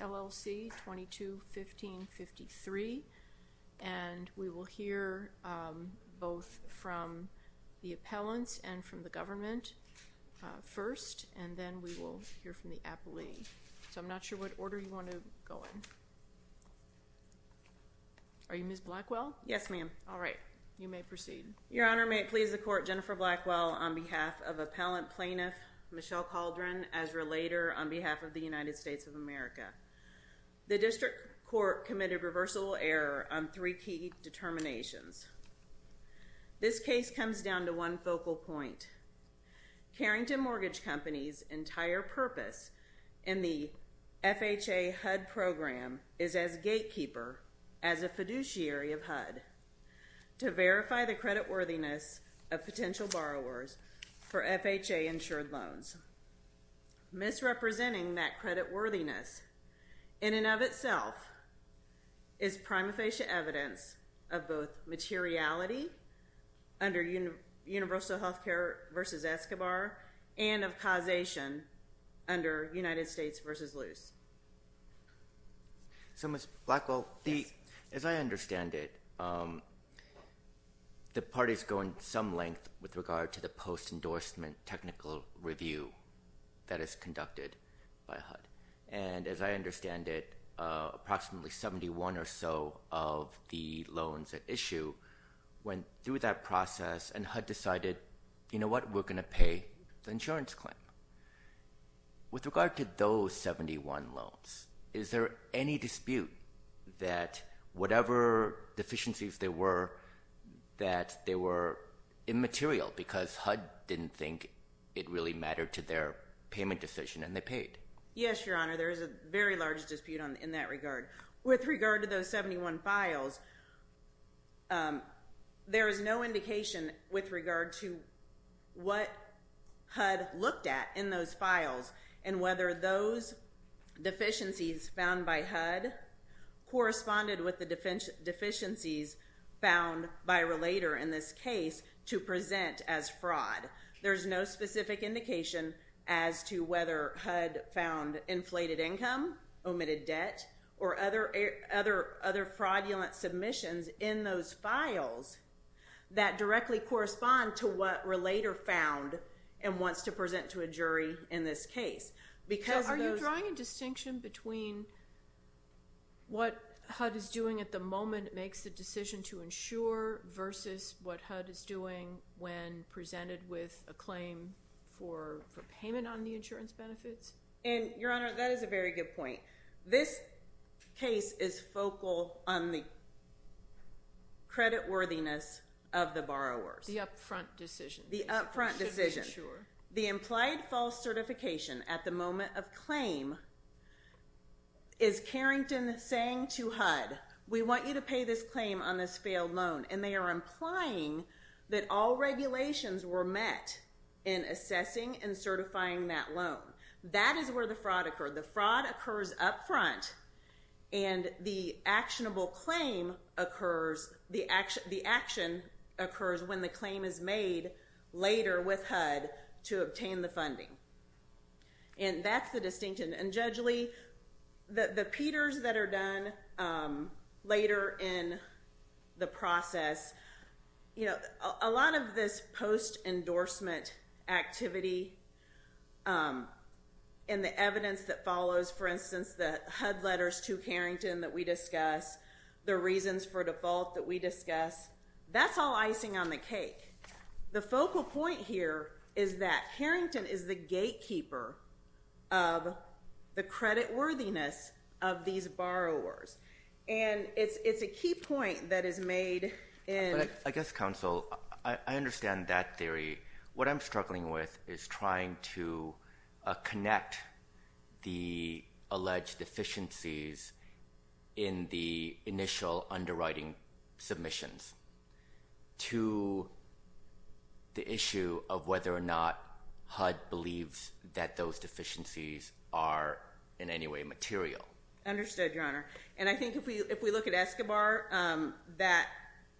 LLC, 22-15-53. And we will hear both from the appellants and from the government first, and then we will hear from the appellee. So I'm not sure what order you want to go in. Are you Ms. Blackwell? Yes, ma'am. All right, you may proceed. Your Honor, may it please the Court, Jennifer Blackwell on behalf of appellant plaintiff Michelle Calderon, Ezra Lader on behalf of the United States of America. The district court committed reversible error on three key determinations. This case comes down to one focal point. Carrington Mortgage Company's entire purpose in the FHA HUD program is as gatekeeper, as a fiduciary of HUD, to verify the creditworthiness of potential borrowers for FHA-insured loans. Misrepresenting that creditworthiness in and of itself is prima facie evidence of both materiality under universal healthcare versus Escobar and of causation under United States versus loose. So Ms. Blackwell, as I understand it, the parties go in some length with regard to the post-endorsement technical review that is conducted by HUD. And as I understand it, approximately 71 or so of the loans at issue went through that process and HUD decided, you know what, we're going to pay the insurance claim. With regard to those 71 loans, is there any dispute that whatever deficiencies there were, that they were immaterial because HUD didn't think it really mattered to their payment decision and they paid? Yes, Your Honor. There is a very large dispute in that regard. With regard to those 71 files, there is no indication with regard to what HUD looked at in those files and whether those deficiencies found by HUD corresponded with the deficiencies found by Relator in this case to present as fraud. There's no specific indication as to whether HUD found inflated income, omitted debt, or other fraudulent submissions in those files that directly correspond to what Relator found and wants to present to a jury in this case. So are you drawing a distinction between what HUD is doing at the moment makes the decision to insure versus what HUD is doing when presented with a claim for payment on the insurance benefits? And, Your Honor, that is a very good point. This case is focal on the creditworthiness of the borrowers. The upfront decision. The upfront decision. To insure. The implied false certification at the moment of claim is Carrington saying to HUD, we want you to pay this claim on this failed loan. And they are implying that all regulations were met in assessing and certifying that loan. That is where the fraud occurred. The fraud occurs up front and the actionable claim occurs, the action occurs when the claim is made later with HUD to obtain the funding. And that's the distinction. And, Judge Lee, the Peters that are done later in the process, you know, a lot of this post-endorsement activity and the evidence that follows, for instance, the HUD letters to Carrington that we discuss, the reasons for default that we discuss, the focal point here is that Carrington is the gatekeeper of the creditworthiness of these borrowers. And it's a key point that is made in. I guess, Counsel, I understand that theory. What I'm struggling with is trying to connect the alleged deficiencies in the initial underwriting submissions to the issue of whether or not HUD believes that those deficiencies are in any way material. Understood, Your Honor. And I think if we look at Escobar, that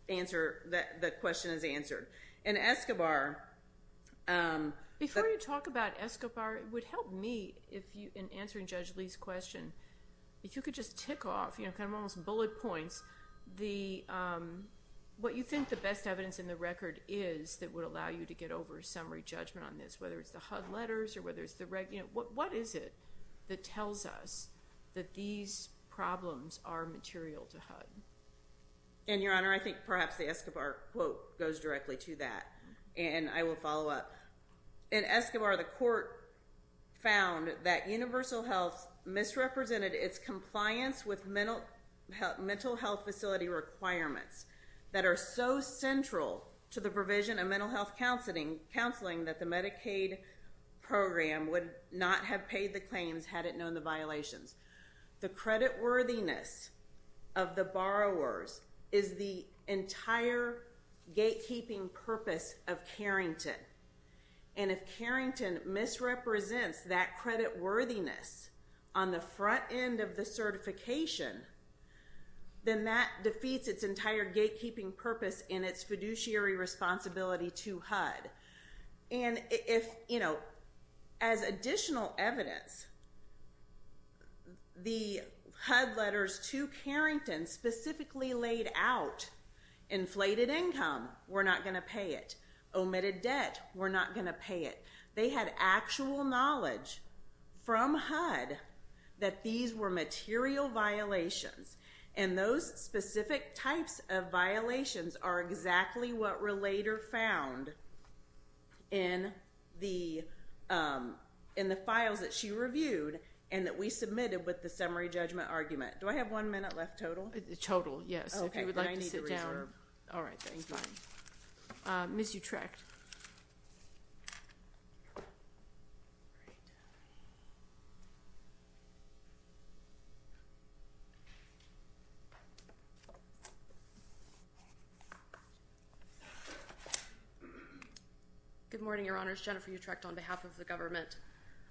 answer, that question is answered. And Escobar. Before you talk about Escobar, it would help me if you, in answering Judge Lee's question, if you could just tick off, you know, kind of almost bullet points, what you think the best evidence in the record is that would allow you to get over a summary judgment on this, whether it's the HUD letters or whether it's the reg. You know, what is it that tells us that these problems are material to HUD? And, Your Honor, I think perhaps the Escobar quote goes directly to that. And I will follow up. In Escobar, the court found that Universal Health misrepresented its compliance with mental health facility requirements that are so central to the provision of mental health counseling that the Medicaid program would not have paid the claims had it known the violations. The creditworthiness of the borrowers is the entire gatekeeping purpose of Carrington. And if Carrington misrepresents that creditworthiness on the front end of the certification, then that defeats its entire gatekeeping purpose and its fiduciary responsibility to HUD. And if, you know, as additional evidence, the HUD letters to Carrington specifically laid out inflated income, we're not going to pay it. Omitted debt, we're not going to pay it. They had actual knowledge from HUD that these were material violations. And those specific types of violations are exactly what Relator found in the files that she reviewed and that we submitted with the summary judgment argument. Do I have one minute left total? Total, yes. If you would like to sit down. Okay, but I need to reserve. All right, thanks. Ms. Utrecht. Good morning, Your Honors. Jennifer Utrecht on behalf of the government.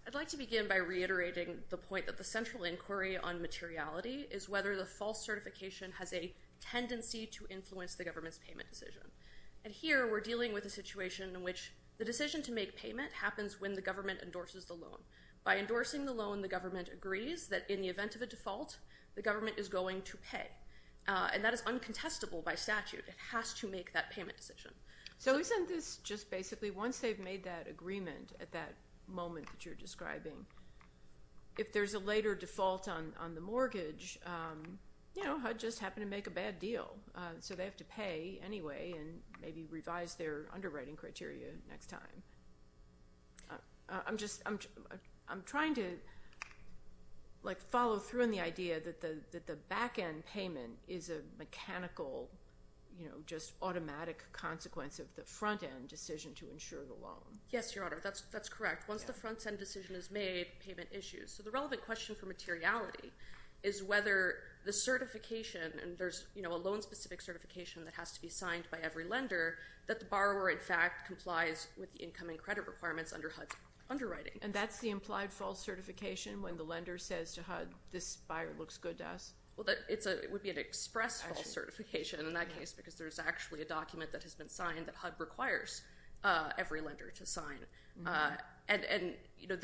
I'd like to begin by reiterating the point that the central inquiry on materiality is whether the false certification has a tendency to influence the government's payment decision. And here, we're dealing with a situation in which the decision to make payment happens when the government endorses the loan. By endorsing the loan, the government agrees that in the event of a default, the government is going to make a payment. And that is uncontestable by statute. It has to make that payment decision. So isn't this just basically once they've made that agreement at that moment that you're describing, if there's a later default on the mortgage, you know, HUD just happened to make a bad deal. So they have to pay anyway and maybe revise their underwriting criteria next time. I'm trying to, like, follow through on the idea that the back-end payment is a mechanical, you know, just automatic consequence of the front-end decision to insure the loan. Yes, Your Honor. That's correct. Once the front-end decision is made, payment issues. So the relevant question for materiality is whether the certification, and there's, you know, a loan-specific certification that has to be signed by every lender, that the borrower, in fact, complies with the income and credit requirements under HUD's underwriting. And that's the implied false certification when the lender says to HUD, this buyer looks good to us? Well, it would be an express false certification in that case because there's actually a document that has been signed that HUD requires every lender to sign. And, you know,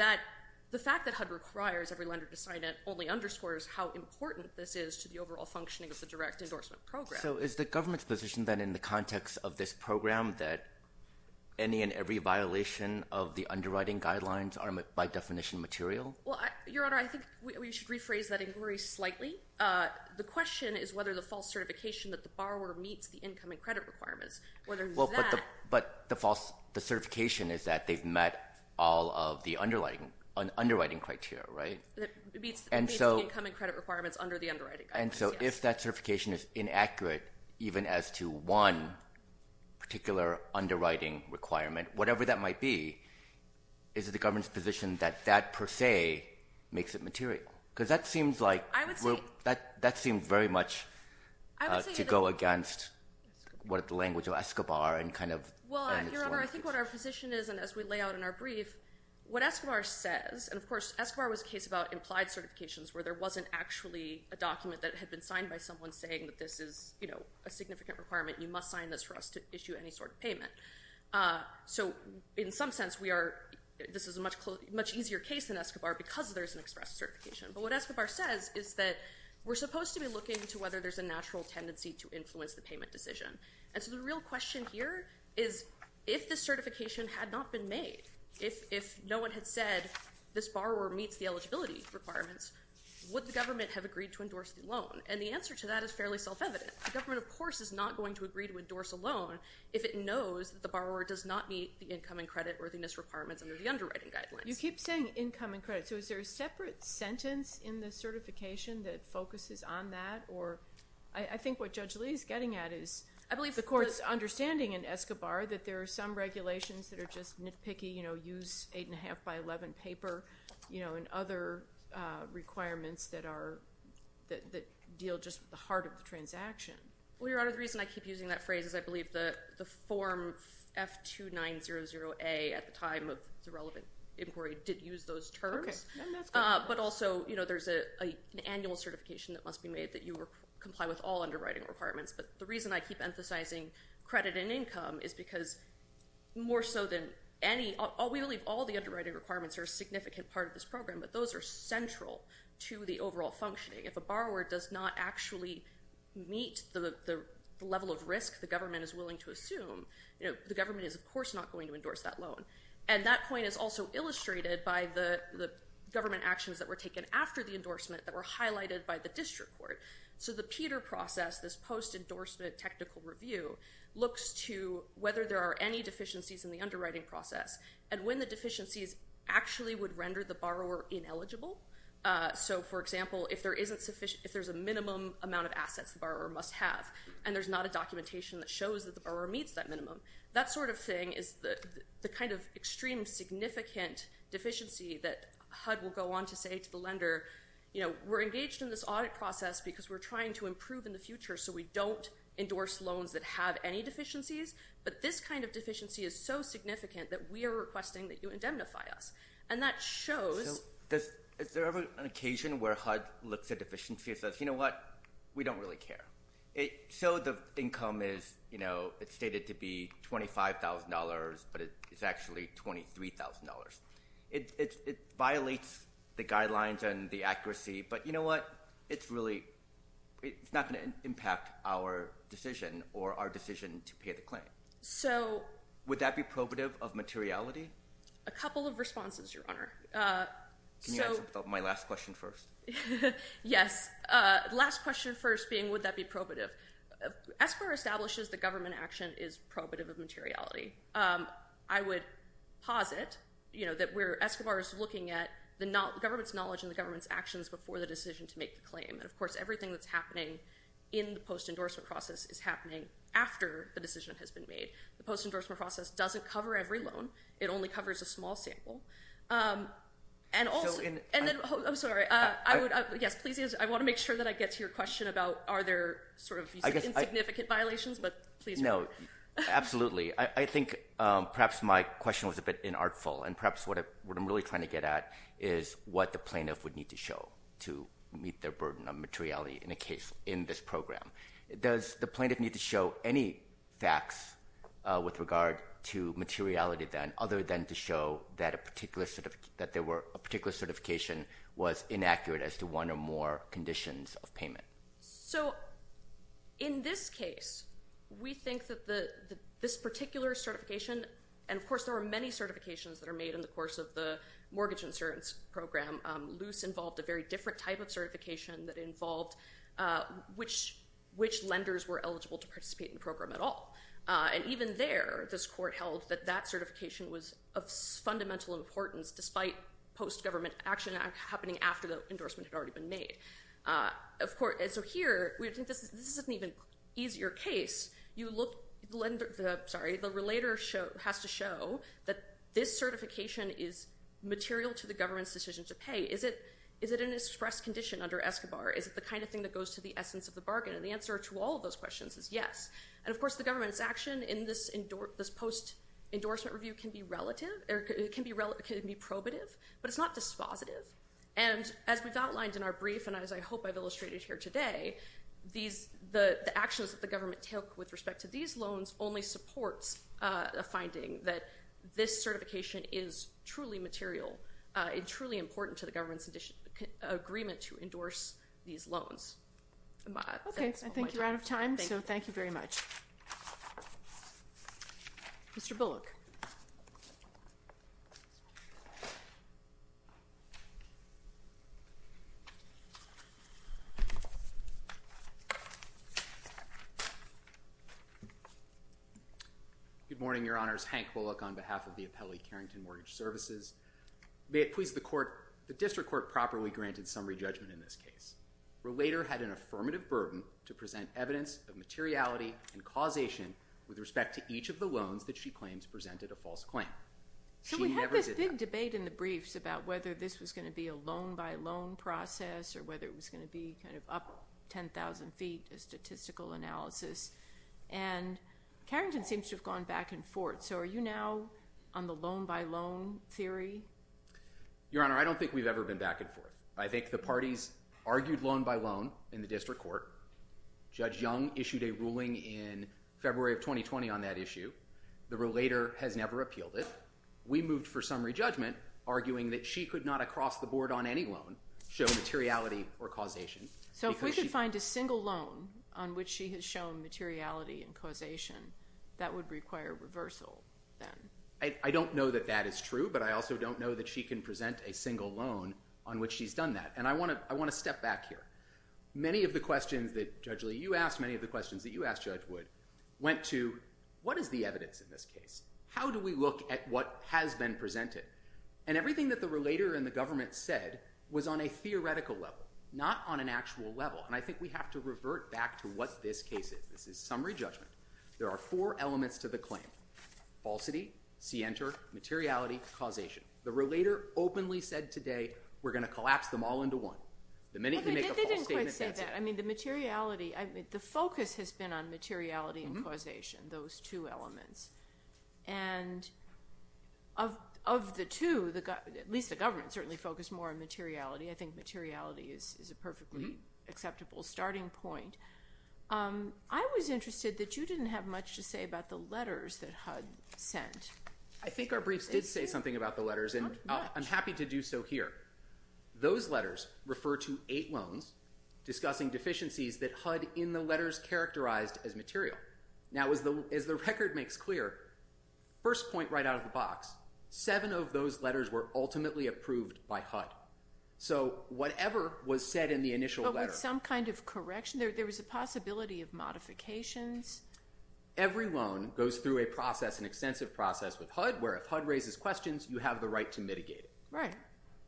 the fact that HUD requires every lender to sign it only underscores how important this is to the overall functioning of the direct endorsement program. So is the government's position, then, in the context of this program, that any and every violation of the underwriting guidelines are, by definition, material? Well, Your Honor, I think we should rephrase that inquiry slightly. The question is whether the false certification that the borrower meets the income and credit requirements, whether that – Well, but the certification is that they've met all of the underwriting criteria, right? It meets the income and credit requirements under the underwriting guidelines, yes. If that certification is inaccurate even as to one particular underwriting requirement, whatever that might be, is it the government's position that that, per se, makes it material? Because that seems like – I would say – That seems very much to go against the language of Escobar and kind of – Well, Your Honor, I think what our position is, and as we lay out in our brief, what Escobar says – and, of course, Escobar was a case about implied certifications where there wasn't actually a document that had been signed by someone saying that this is, you know, a significant requirement, you must sign this for us to issue any sort of payment. So, in some sense, we are – this is a much easier case than Escobar because there's an express certification. But what Escobar says is that we're supposed to be looking to whether there's a natural tendency to influence the payment decision. And so the real question here is if this certification had not been made, if no one had said this borrower meets the eligibility requirements, would the government have agreed to endorse the loan? And the answer to that is fairly self-evident. The government, of course, is not going to agree to endorse a loan if it knows that the borrower does not meet the income and credit worthiness requirements under the underwriting guidelines. You keep saying income and credit. So is there a separate sentence in the certification that focuses on that? Or I think what Judge Lee is getting at is the court's understanding in Escobar that there are some regulations that are just nitpicky, you know, use 8.5 by 11 paper, you know, and other requirements that deal just with the heart of the transaction. Well, Your Honor, the reason I keep using that phrase is I believe the form F2900A at the time of the relevant inquiry did use those terms. But also, you know, there's an annual certification that must be made that you comply with all underwriting requirements. But the reason I keep emphasizing credit and income is because more so than any, we believe all the underwriting requirements are a significant part of this program, but those are central to the overall functioning. If a borrower does not actually meet the level of risk the government is willing to assume, you know, the government is, of course, not going to endorse that loan. And that point is also illustrated by the government actions that were taken after the endorsement that were highlighted by the district court. So the PETR process, this post-endorsement technical review, looks to whether there are any deficiencies in the underwriting process and when the deficiencies actually would render the borrower ineligible. So, for example, if there's a minimum amount of assets the borrower must have and there's not a documentation that shows that the borrower meets that minimum, that sort of thing is the kind of extreme significant deficiency that HUD will go on to say to the lender, you know, we're engaged in this audit process because we're trying to improve in the future so we don't endorse loans that have any deficiencies, but this kind of deficiency is so significant that we are requesting that you indemnify us. And that shows... So is there ever an occasion where HUD looks at deficiencies and says, you know what, we don't really care. So the income is, you know, it's stated to be $25,000, but it's actually $23,000. It violates the guidelines and the accuracy, but you know what, it's really not going to impact our decision or our decision to pay the claim. So... Would that be probative of materiality? A couple of responses, Your Honor. Can you answer my last question first? Yes. Last question first being would that be probative? As far as establishes the government action is probative of materiality. I would posit, you know, that Escobar is looking at the government's knowledge and the government's actions before the decision to make the claim. And, of course, everything that's happening in the post-endorsement process is happening after the decision has been made. The post-endorsement process doesn't cover every loan. It only covers a small sample. And also... I'm sorry. Yes, please. I want to make sure that I get to your question about are there sort of insignificant violations, but please... No, absolutely. I think perhaps my question was a bit inartful, and perhaps what I'm really trying to get at is what the plaintiff would need to show to meet their burden of materiality in a case in this program. Does the plaintiff need to show any facts with regard to materiality then other than to show that a particular certification was inaccurate as to one or more conditions of payment? So, in this case, we think that this particular certification and, of course, there are many certifications that are made in the course of the mortgage insurance program. Loose involved a very different type of certification that involved which lenders were eligible to participate in the program at all. And even there, this court held that that certification was of fundamental importance despite post-government action happening after the endorsement had already been made. So here, we think this is an even easier case. You look... Sorry, the relator has to show that this certification is material to the government's decision to pay. Is it an express condition under ESCOBAR? Is it the kind of thing that goes to the essence of the bargain? And the answer to all of those questions is yes. And, of course, the government's action in this post-endorsement review can be relative or it can be probative, but it's not dispositive. And as we've outlined in our brief and as I hope I've illustrated here today, the actions that the government took with respect to these loans only supports a finding that this certification is truly material and truly important to the government's agreement to endorse these loans. Okay. I think you're out of time, so thank you very much. Mr. Bullock. Thank you. Good morning, Your Honors. Hank Bullock on behalf of the Appellee Carrington Mortgage Services. May it please the Court, the District Court properly granted summary judgment in this case. Relator had an affirmative burden to present evidence of materiality and causation with respect to each of the loans that she claims presented a false claim. She never did that. There was a big debate in the briefs about whether this was going to be a loan-by-loan process or whether it was going to be kind of up 10,000 feet, a statistical analysis, and Carrington seems to have gone back and forth. So are you now on the loan-by-loan theory? Your Honor, I don't think we've ever been back and forth. I think the parties argued loan-by-loan in the District Court. Judge Young issued a ruling in February of 2020 on that issue. The relator has never appealed it. We moved for summary judgment, arguing that she could not across the board on any loan show materiality or causation. So if we could find a single loan on which she has shown materiality and causation, that would require reversal then. I don't know that that is true, but I also don't know that she can present a single loan on which she's done that, and I want to step back here. Many of the questions that, Judge Lee, you asked, many of the questions that you asked, Judge Wood, went to what is the evidence in this case? How do we look at what has been presented? And everything that the relator and the government said was on a theoretical level, not on an actual level, and I think we have to revert back to what this case is. This is summary judgment. There are four elements to the claim. Falsity, scienter, materiality, causation. The relator openly said today, we're going to collapse them all into one. They didn't quite say that. The focus has been on materiality and causation, those two elements, and of the two, at least the government certainly focused more on materiality. I think materiality is a perfectly acceptable starting point. I was interested that you didn't have much to say about the letters that HUD sent. I think our briefs did say something about the letters, and I'm happy to do so here. Those letters refer to eight loans discussing deficiencies that HUD in the letters characterized as material. Now, as the record makes clear, first point right out of the box, seven of those letters were ultimately approved by HUD. So whatever was said in the initial letter. But with some kind of correction, there was a possibility of modifications. Every loan goes through a process, an extensive process with HUD, where if HUD raises questions, you have the right to mitigate it.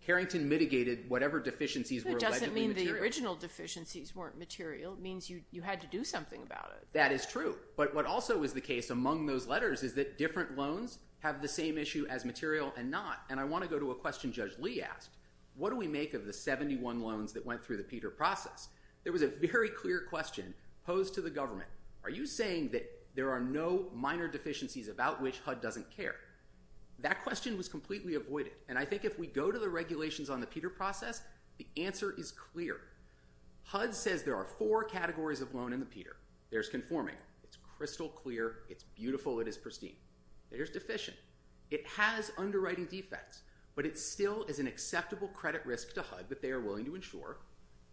Carrington mitigated whatever deficiencies were allegedly material. It doesn't mean the original deficiencies weren't material. It means you had to do something about it. That is true. But what also is the case among those letters is that different loans have the same issue as material and not. And I want to go to a question Judge Lee asked. What do we make of the 71 loans that went through the Peter process? There was a very clear question posed to the government. Are you saying that there are no minor deficiencies about which HUD doesn't care? That question was completely avoided. And I think if we go to the regulations on the Peter process, the answer is clear. HUD says there are four categories of loan in the Peter. There's conforming. It's crystal clear. It's beautiful. It is pristine. There's deficient. It has underwriting defects, but it still is an acceptable credit risk to HUD that they are willing to insure.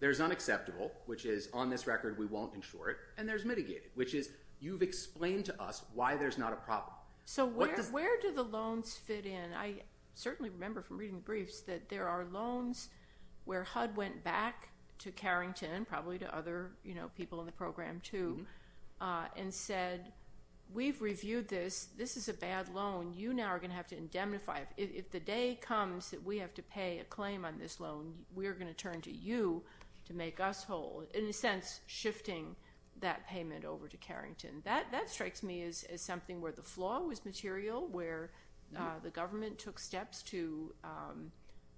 There's unacceptable, which is on this record we won't insure it. And there's mitigated, which is you've explained to us why there's not a problem. So where do the loans fit in? I certainly remember from reading the briefs that there are loans where HUD went back to Carrington, probably to other people in the program too, and said we've reviewed this. This is a bad loan. You now are going to have to indemnify it. If the day comes that we have to pay a claim on this loan, we are going to turn to you to make us whole, in a sense shifting that payment over to Carrington. That strikes me as something where the flaw was material, where the government took steps to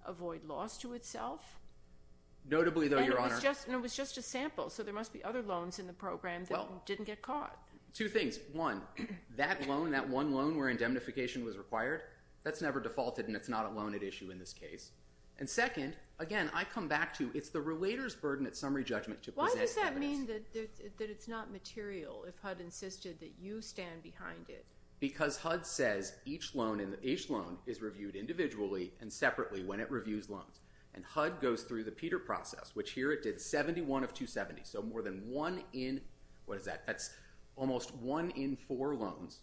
avoid loss to itself. Notably, though, Your Honor. And it was just a sample, so there must be other loans in the program that didn't get caught. Two things. One, that loan, that one loan where indemnification was required, that's never defaulted, and it's not a loan at issue in this case. And second, again, I come back to it's the relator's burden at summary judgment to present evidence. You're saying that it's not material if HUD insisted that you stand behind it. Because HUD says each loan is reviewed individually and separately when it reviews loans. And HUD goes through the Peter process, which here it did 71 of 270, so more than one in, what is that, that's almost one in four loans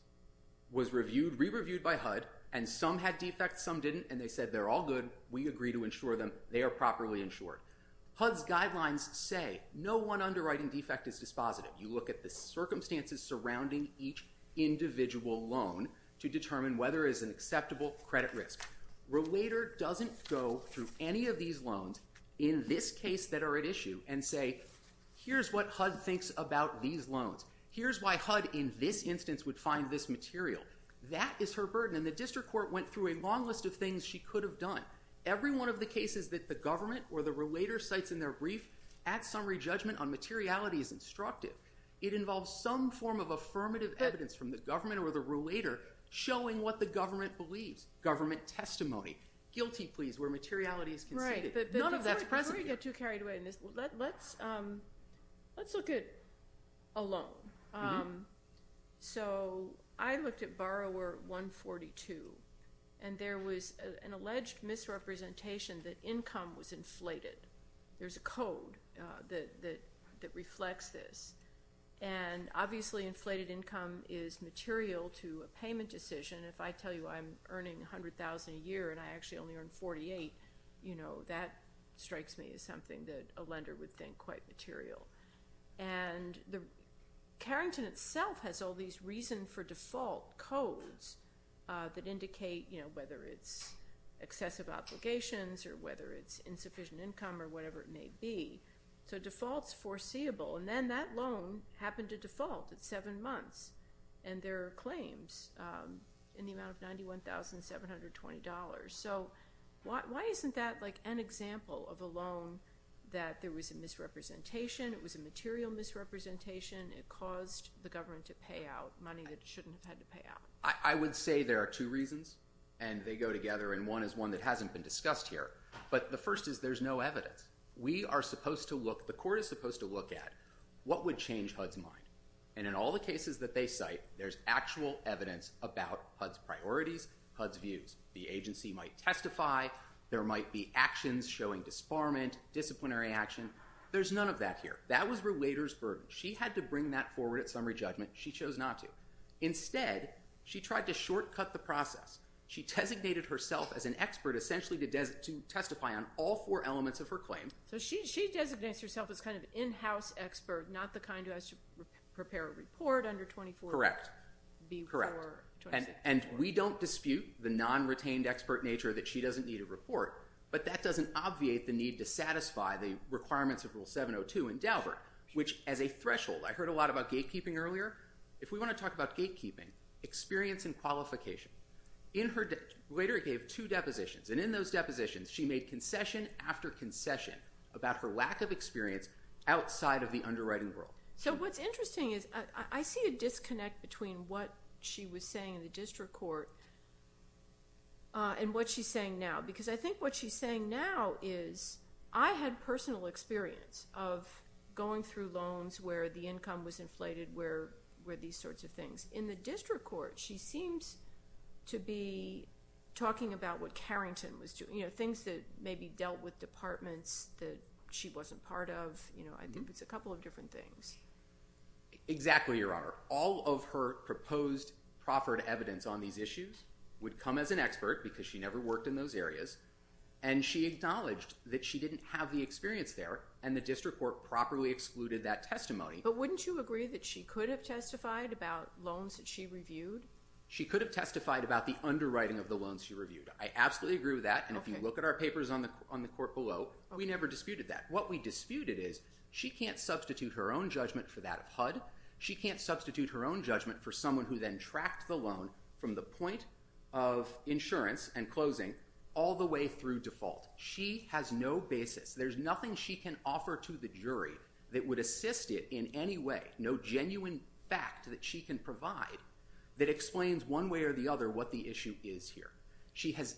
was reviewed, re-reviewed by HUD, and some had defects, some didn't, and they said they're all good, we agree to insure them, they are properly insured. HUD's guidelines say no one underwriting defect is dispositive. You look at the circumstances surrounding each individual loan to determine whether it's an acceptable credit risk. Relator doesn't go through any of these loans in this case that are at issue and say, here's what HUD thinks about these loans. Here's why HUD in this instance would find this material. That is her burden, and the district court went through a long list of things she could have done. Every one of the cases that the government or the relator cites in their brief at summary judgment on materiality is instructive. It involves some form of affirmative evidence from the government or the relator showing what the government believes, government testimony, guilty pleas where materiality is conceded. None of that's present here. Before we get too carried away in this, let's look at a loan. So I looked at borrower 142, and there was an alleged misrepresentation that income was inflated. There's a code that reflects this. And obviously inflated income is material to a payment decision. If I tell you I'm earning $100,000 a year and I actually only earn $48,000, that strikes me as something that a lender would think quite material. And Carrington itself has all these reason for default codes that indicate whether it's excessive obligations or whether it's insufficient income or whatever it may be. So default's foreseeable, and then that loan happened to default at seven months, and there are claims in the amount of $91,720. So why isn't that like an example of a loan that there was a misrepresentation, it was a material misrepresentation, it caused the government to pay out money that it shouldn't have had to pay out? I would say there are two reasons, and they go together, and one is one that hasn't been discussed here. But the first is there's no evidence. We are supposed to look, the court is supposed to look at what would change HUD's mind. And in all the cases that they cite, there's actual evidence about HUD's priorities, HUD's views. The agency might testify. There might be actions showing disbarment, disciplinary action. There's none of that here. That was Relator's burden. She had to bring that forward at summary judgment. She chose not to. Instead, she tried to shortcut the process. She designated herself as an expert essentially to testify on all four elements of her claim. So she designates herself as kind of an in-house expert, not the kind who has to prepare a report under 24... Correct, correct. And we don't dispute the non-retained expert nature that she doesn't need a report, but that doesn't obviate the need to satisfy the requirements of Rule 702 in Daubert, which as a threshold. I heard a lot about gatekeeping earlier. If we want to talk about gatekeeping, experience and qualification. Later it gave two depositions, and in those depositions she made concession after concession about her lack of experience outside of the underwriting world. So what's interesting is I see a disconnect between what she was saying in the district court and what she's saying now because I think what she's saying now is, I had personal experience of going through loans where the income was inflated, where these sorts of things. In the district court, she seems to be talking about what Carrington was doing, things that maybe dealt with departments that she wasn't part of. I think it's a couple of different things. Exactly, Your Honor. All of her proposed proffered evidence on these issues would come as an expert because she never worked in those areas, and she acknowledged that she didn't have the experience there and the district court properly excluded that testimony. But wouldn't you agree that she could have testified about loans that she reviewed? She could have testified about the underwriting of the loans she reviewed. I absolutely agree with that, and if you look at our papers on the court below, we never disputed that. What we disputed is she can't substitute her own judgment for that of HUD. She can't substitute her own judgment for someone who then tracked the loan from the point of insurance and closing all the way through default. She has no basis. There's nothing she can offer to the jury that would assist it in any way, no genuine fact that she can provide that explains one way or the other what the issue is here.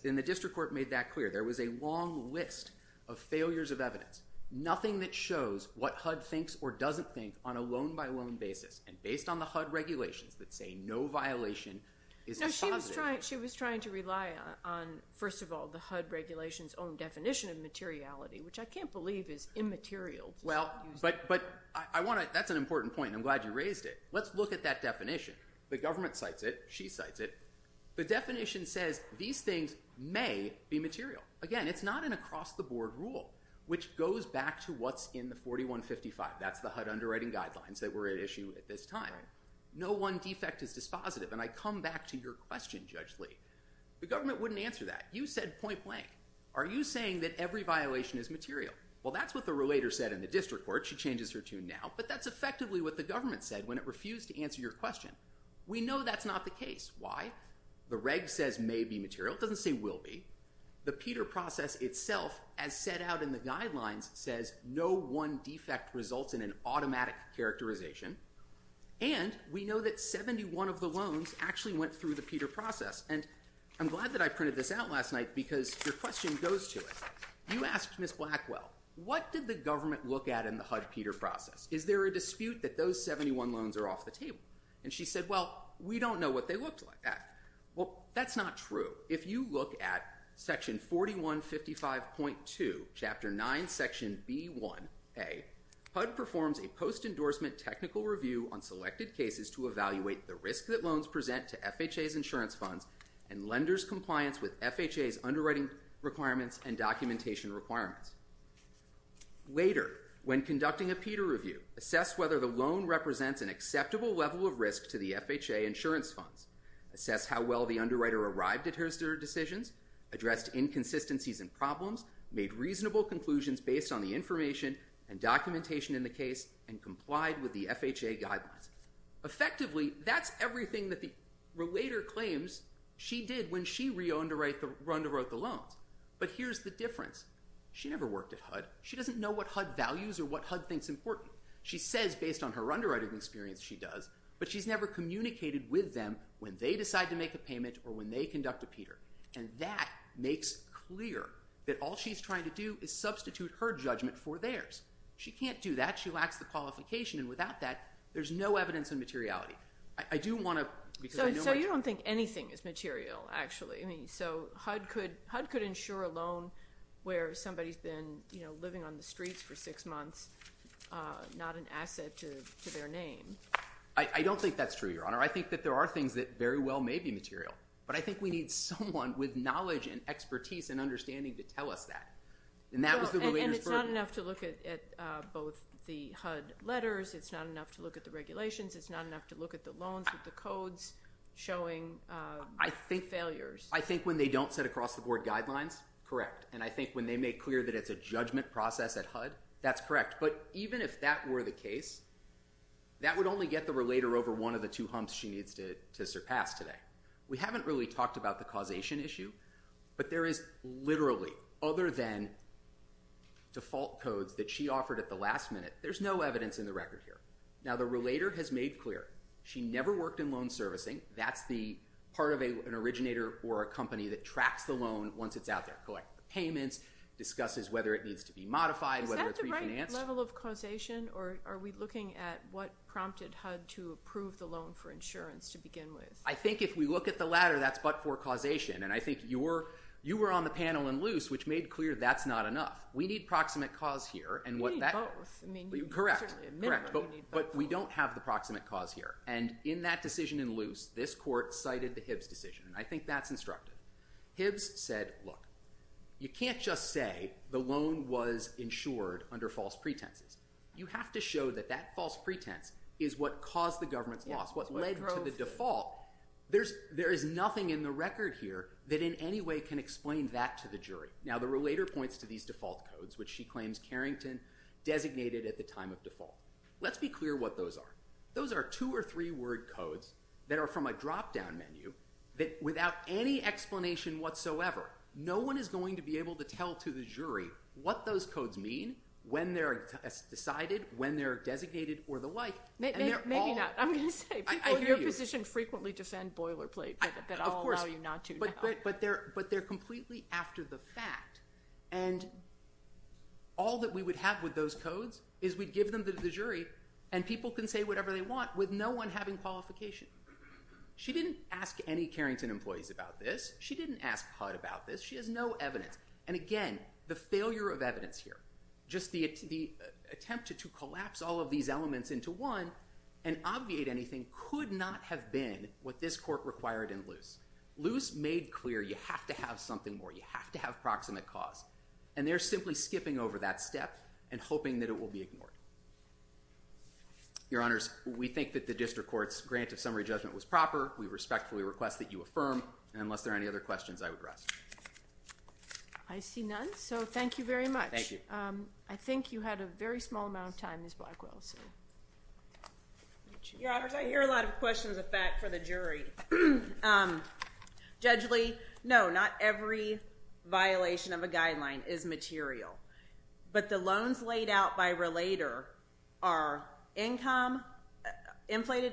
And the district court made that clear. There was a long list of failures of evidence, nothing that shows what HUD thinks or doesn't think on a loan-by-loan basis, and based on the HUD regulations that say no violation is a positive. She was trying to rely on, first of all, the HUD regulations' own definition of materiality, which I can't believe is immaterial. Well, but that's an important point, and I'm glad you raised it. Let's look at that definition. The government cites it. She cites it. The definition says these things may be material. Again, it's not an across-the-board rule, which goes back to what's in the 4155. That's the HUD underwriting guidelines that were at issue at this time. No one defect is dispositive, and I come back to your question, Judge Lee. The government wouldn't answer that. You said point-blank. Are you saying that every violation is material? Well, that's what the relator said in the district court. She changes her tune now, but that's effectively what the government said when it refused to answer your question. We know that's not the case. Why? The reg says may be material. It doesn't say will be. The Peter process itself, as set out in the guidelines, says no one defect results in an automatic characterization, and we know that 71 of the loans actually went through the Peter process. And I'm glad that I printed this out last night because your question goes to it. You asked Ms. Blackwell, what did the government look at in the HUD Peter process? Is there a dispute that those 71 loans are off the table? And she said, well, we don't know what they looked like. Well, that's not true. If you look at Section 4155.2, Chapter 9, Section B1a, HUD performs a post-endorsement technical review on selected cases to evaluate the risk that loans present to FHA's insurance funds and lenders' compliance with FHA's underwriting requirements and documentation requirements. Later, when conducting a Peter review, assess whether the loan represents an acceptable level of risk to the FHA insurance funds, assess how well the underwriter arrived at her decisions, addressed inconsistencies and problems, made reasonable conclusions based on the information and documentation in the case, and complied with the FHA guidelines. Effectively, that's everything that the relator claims she did when she re-underwrote the loans. But here's the difference. She never worked at HUD. She doesn't know what HUD values or what HUD thinks important. She says based on her underwriting experience she does, but she's never communicated with them when they decide to make a payment or when they conduct a Peter. And that makes clear that all she's trying to do is substitute her judgment for theirs. She can't do that. She lacks the qualification. And without that, there's no evidence of materiality. I do want to, because I know my job. So you don't think anything is material, actually. So HUD could insure a loan where somebody's been living on the streets for six months, not an asset to their name. I don't think that's true, Your Honor. I think that there are things that very well may be material. But I think we need someone with knowledge and expertise and understanding to tell us that. And that was the relator's verdict. And it's not enough to look at both the HUD letters. It's not enough to look at the regulations. It's not enough to look at the loans with the codes showing failures. I think when they don't set across-the-board guidelines, correct. And I think when they make clear that it's a judgment process at HUD, that's correct. But even if that were the case, that would only get the relator over one of the two humps she needs to surpass today. We haven't really talked about the causation issue, but there is literally, other than default codes that she offered at the last minute, there's no evidence in the record here. Now, the relator has made clear she never worked in loan servicing. That's the part of an originator or a company that tracks the loan once it's out there, collects the payments, discusses whether it needs to be modified, whether it's refinanced. Is that the right level of causation, or are we looking at what prompted HUD to approve the loan for insurance to begin with? I think if we look at the latter, that's but for causation. And I think you were on the panel in Luce, which made clear that's not enough. We need proximate cause here. You need both. Correct, but we don't have the proximate cause here. And in that decision in Luce, this court cited the Hibbs decision, and I think that's instructive. Hibbs said, look, you can't just say the loan was insured under false pretenses. You have to show that that false pretense is what caused the government's loss, what led to the default. There is nothing in the record here that in any way can explain that to the jury. Now, the relator points to these default codes, which she claims Carrington designated at the time of default. Let's be clear what those are. Those are two- or three-word codes that are from a drop-down menu that, without any explanation whatsoever, no one is going to be able to tell to the jury what those codes mean, when they're decided, when they're designated, or the like. Maybe not. I'm going to say, people in your position frequently defend boilerplate, but I'll allow you not to now. But they're completely after the fact. And all that we would have with those codes is we'd give them to the jury, and people can say whatever they want with no one having qualification. She didn't ask any Carrington employees about this. She didn't ask HUD about this. She has no evidence. And again, the failure of evidence here, just the attempt to collapse all of these elements into one and obviate anything could not have been what this court required in Luce. Luce made clear you have to have something more. You have to have proximate cause. And they're simply skipping over that step and hoping that it will be ignored. Your Honors, we think that the district court's grant of summary judgment was proper. We respectfully request that you affirm. And unless there are any other questions, I would rest. I see none. So thank you very much. Thank you. I think you had a very small amount of time, Ms. Blackwell. Your Honors, I hear a lot of questions of that for the jury. Judge Lee, no, not every violation of a guideline is material. But the loans laid out by Relator are inflated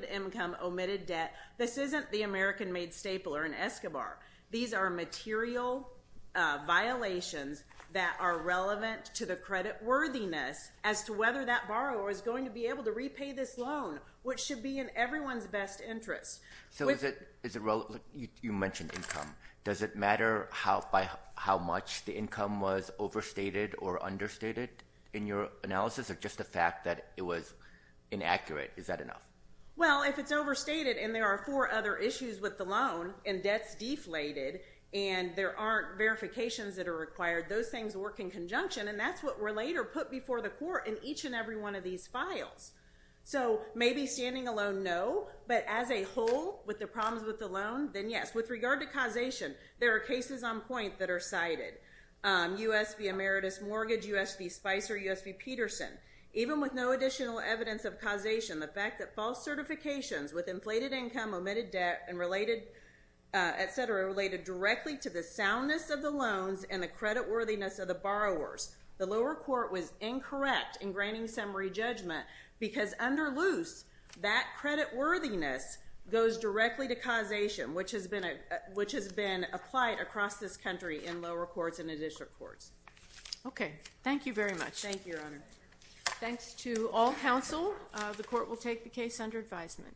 income, omitted debt. This isn't the American-Made Stapler and Escobar. These are material violations that are relevant to the creditworthiness as to whether that borrower is going to be able to repay this loan, which should be in everyone's best interest. You mentioned income. Does it matter how much the income was overstated or understated in your analysis or just the fact that it was inaccurate? Is that enough? Well, if it's overstated and there are four other issues with the loan and debt's deflated and there aren't verifications that are required, those things work in conjunction. And that's what Relator put before the court in each and every one of these files. So maybe standing alone, no. But as a whole, with the problems with the loan, then yes. With regard to causation, there are cases on point that are cited. U.S. v. Emeritus Mortgage, U.S. v. Spicer, U.S. v. Peterson. Even with no additional evidence of causation, the fact that false certifications with inflated income, omitted debt, and related, et cetera, related directly to the soundness of the loans and the creditworthiness of the borrowers, the lower court was incorrect in granting summary judgment because under loose, that creditworthiness goes directly to causation, which has been applied across this country in lower courts and in district courts. Okay. Thank you very much. Thank you, Your Honor. Thanks to all counsel. The court will take the case under advisement.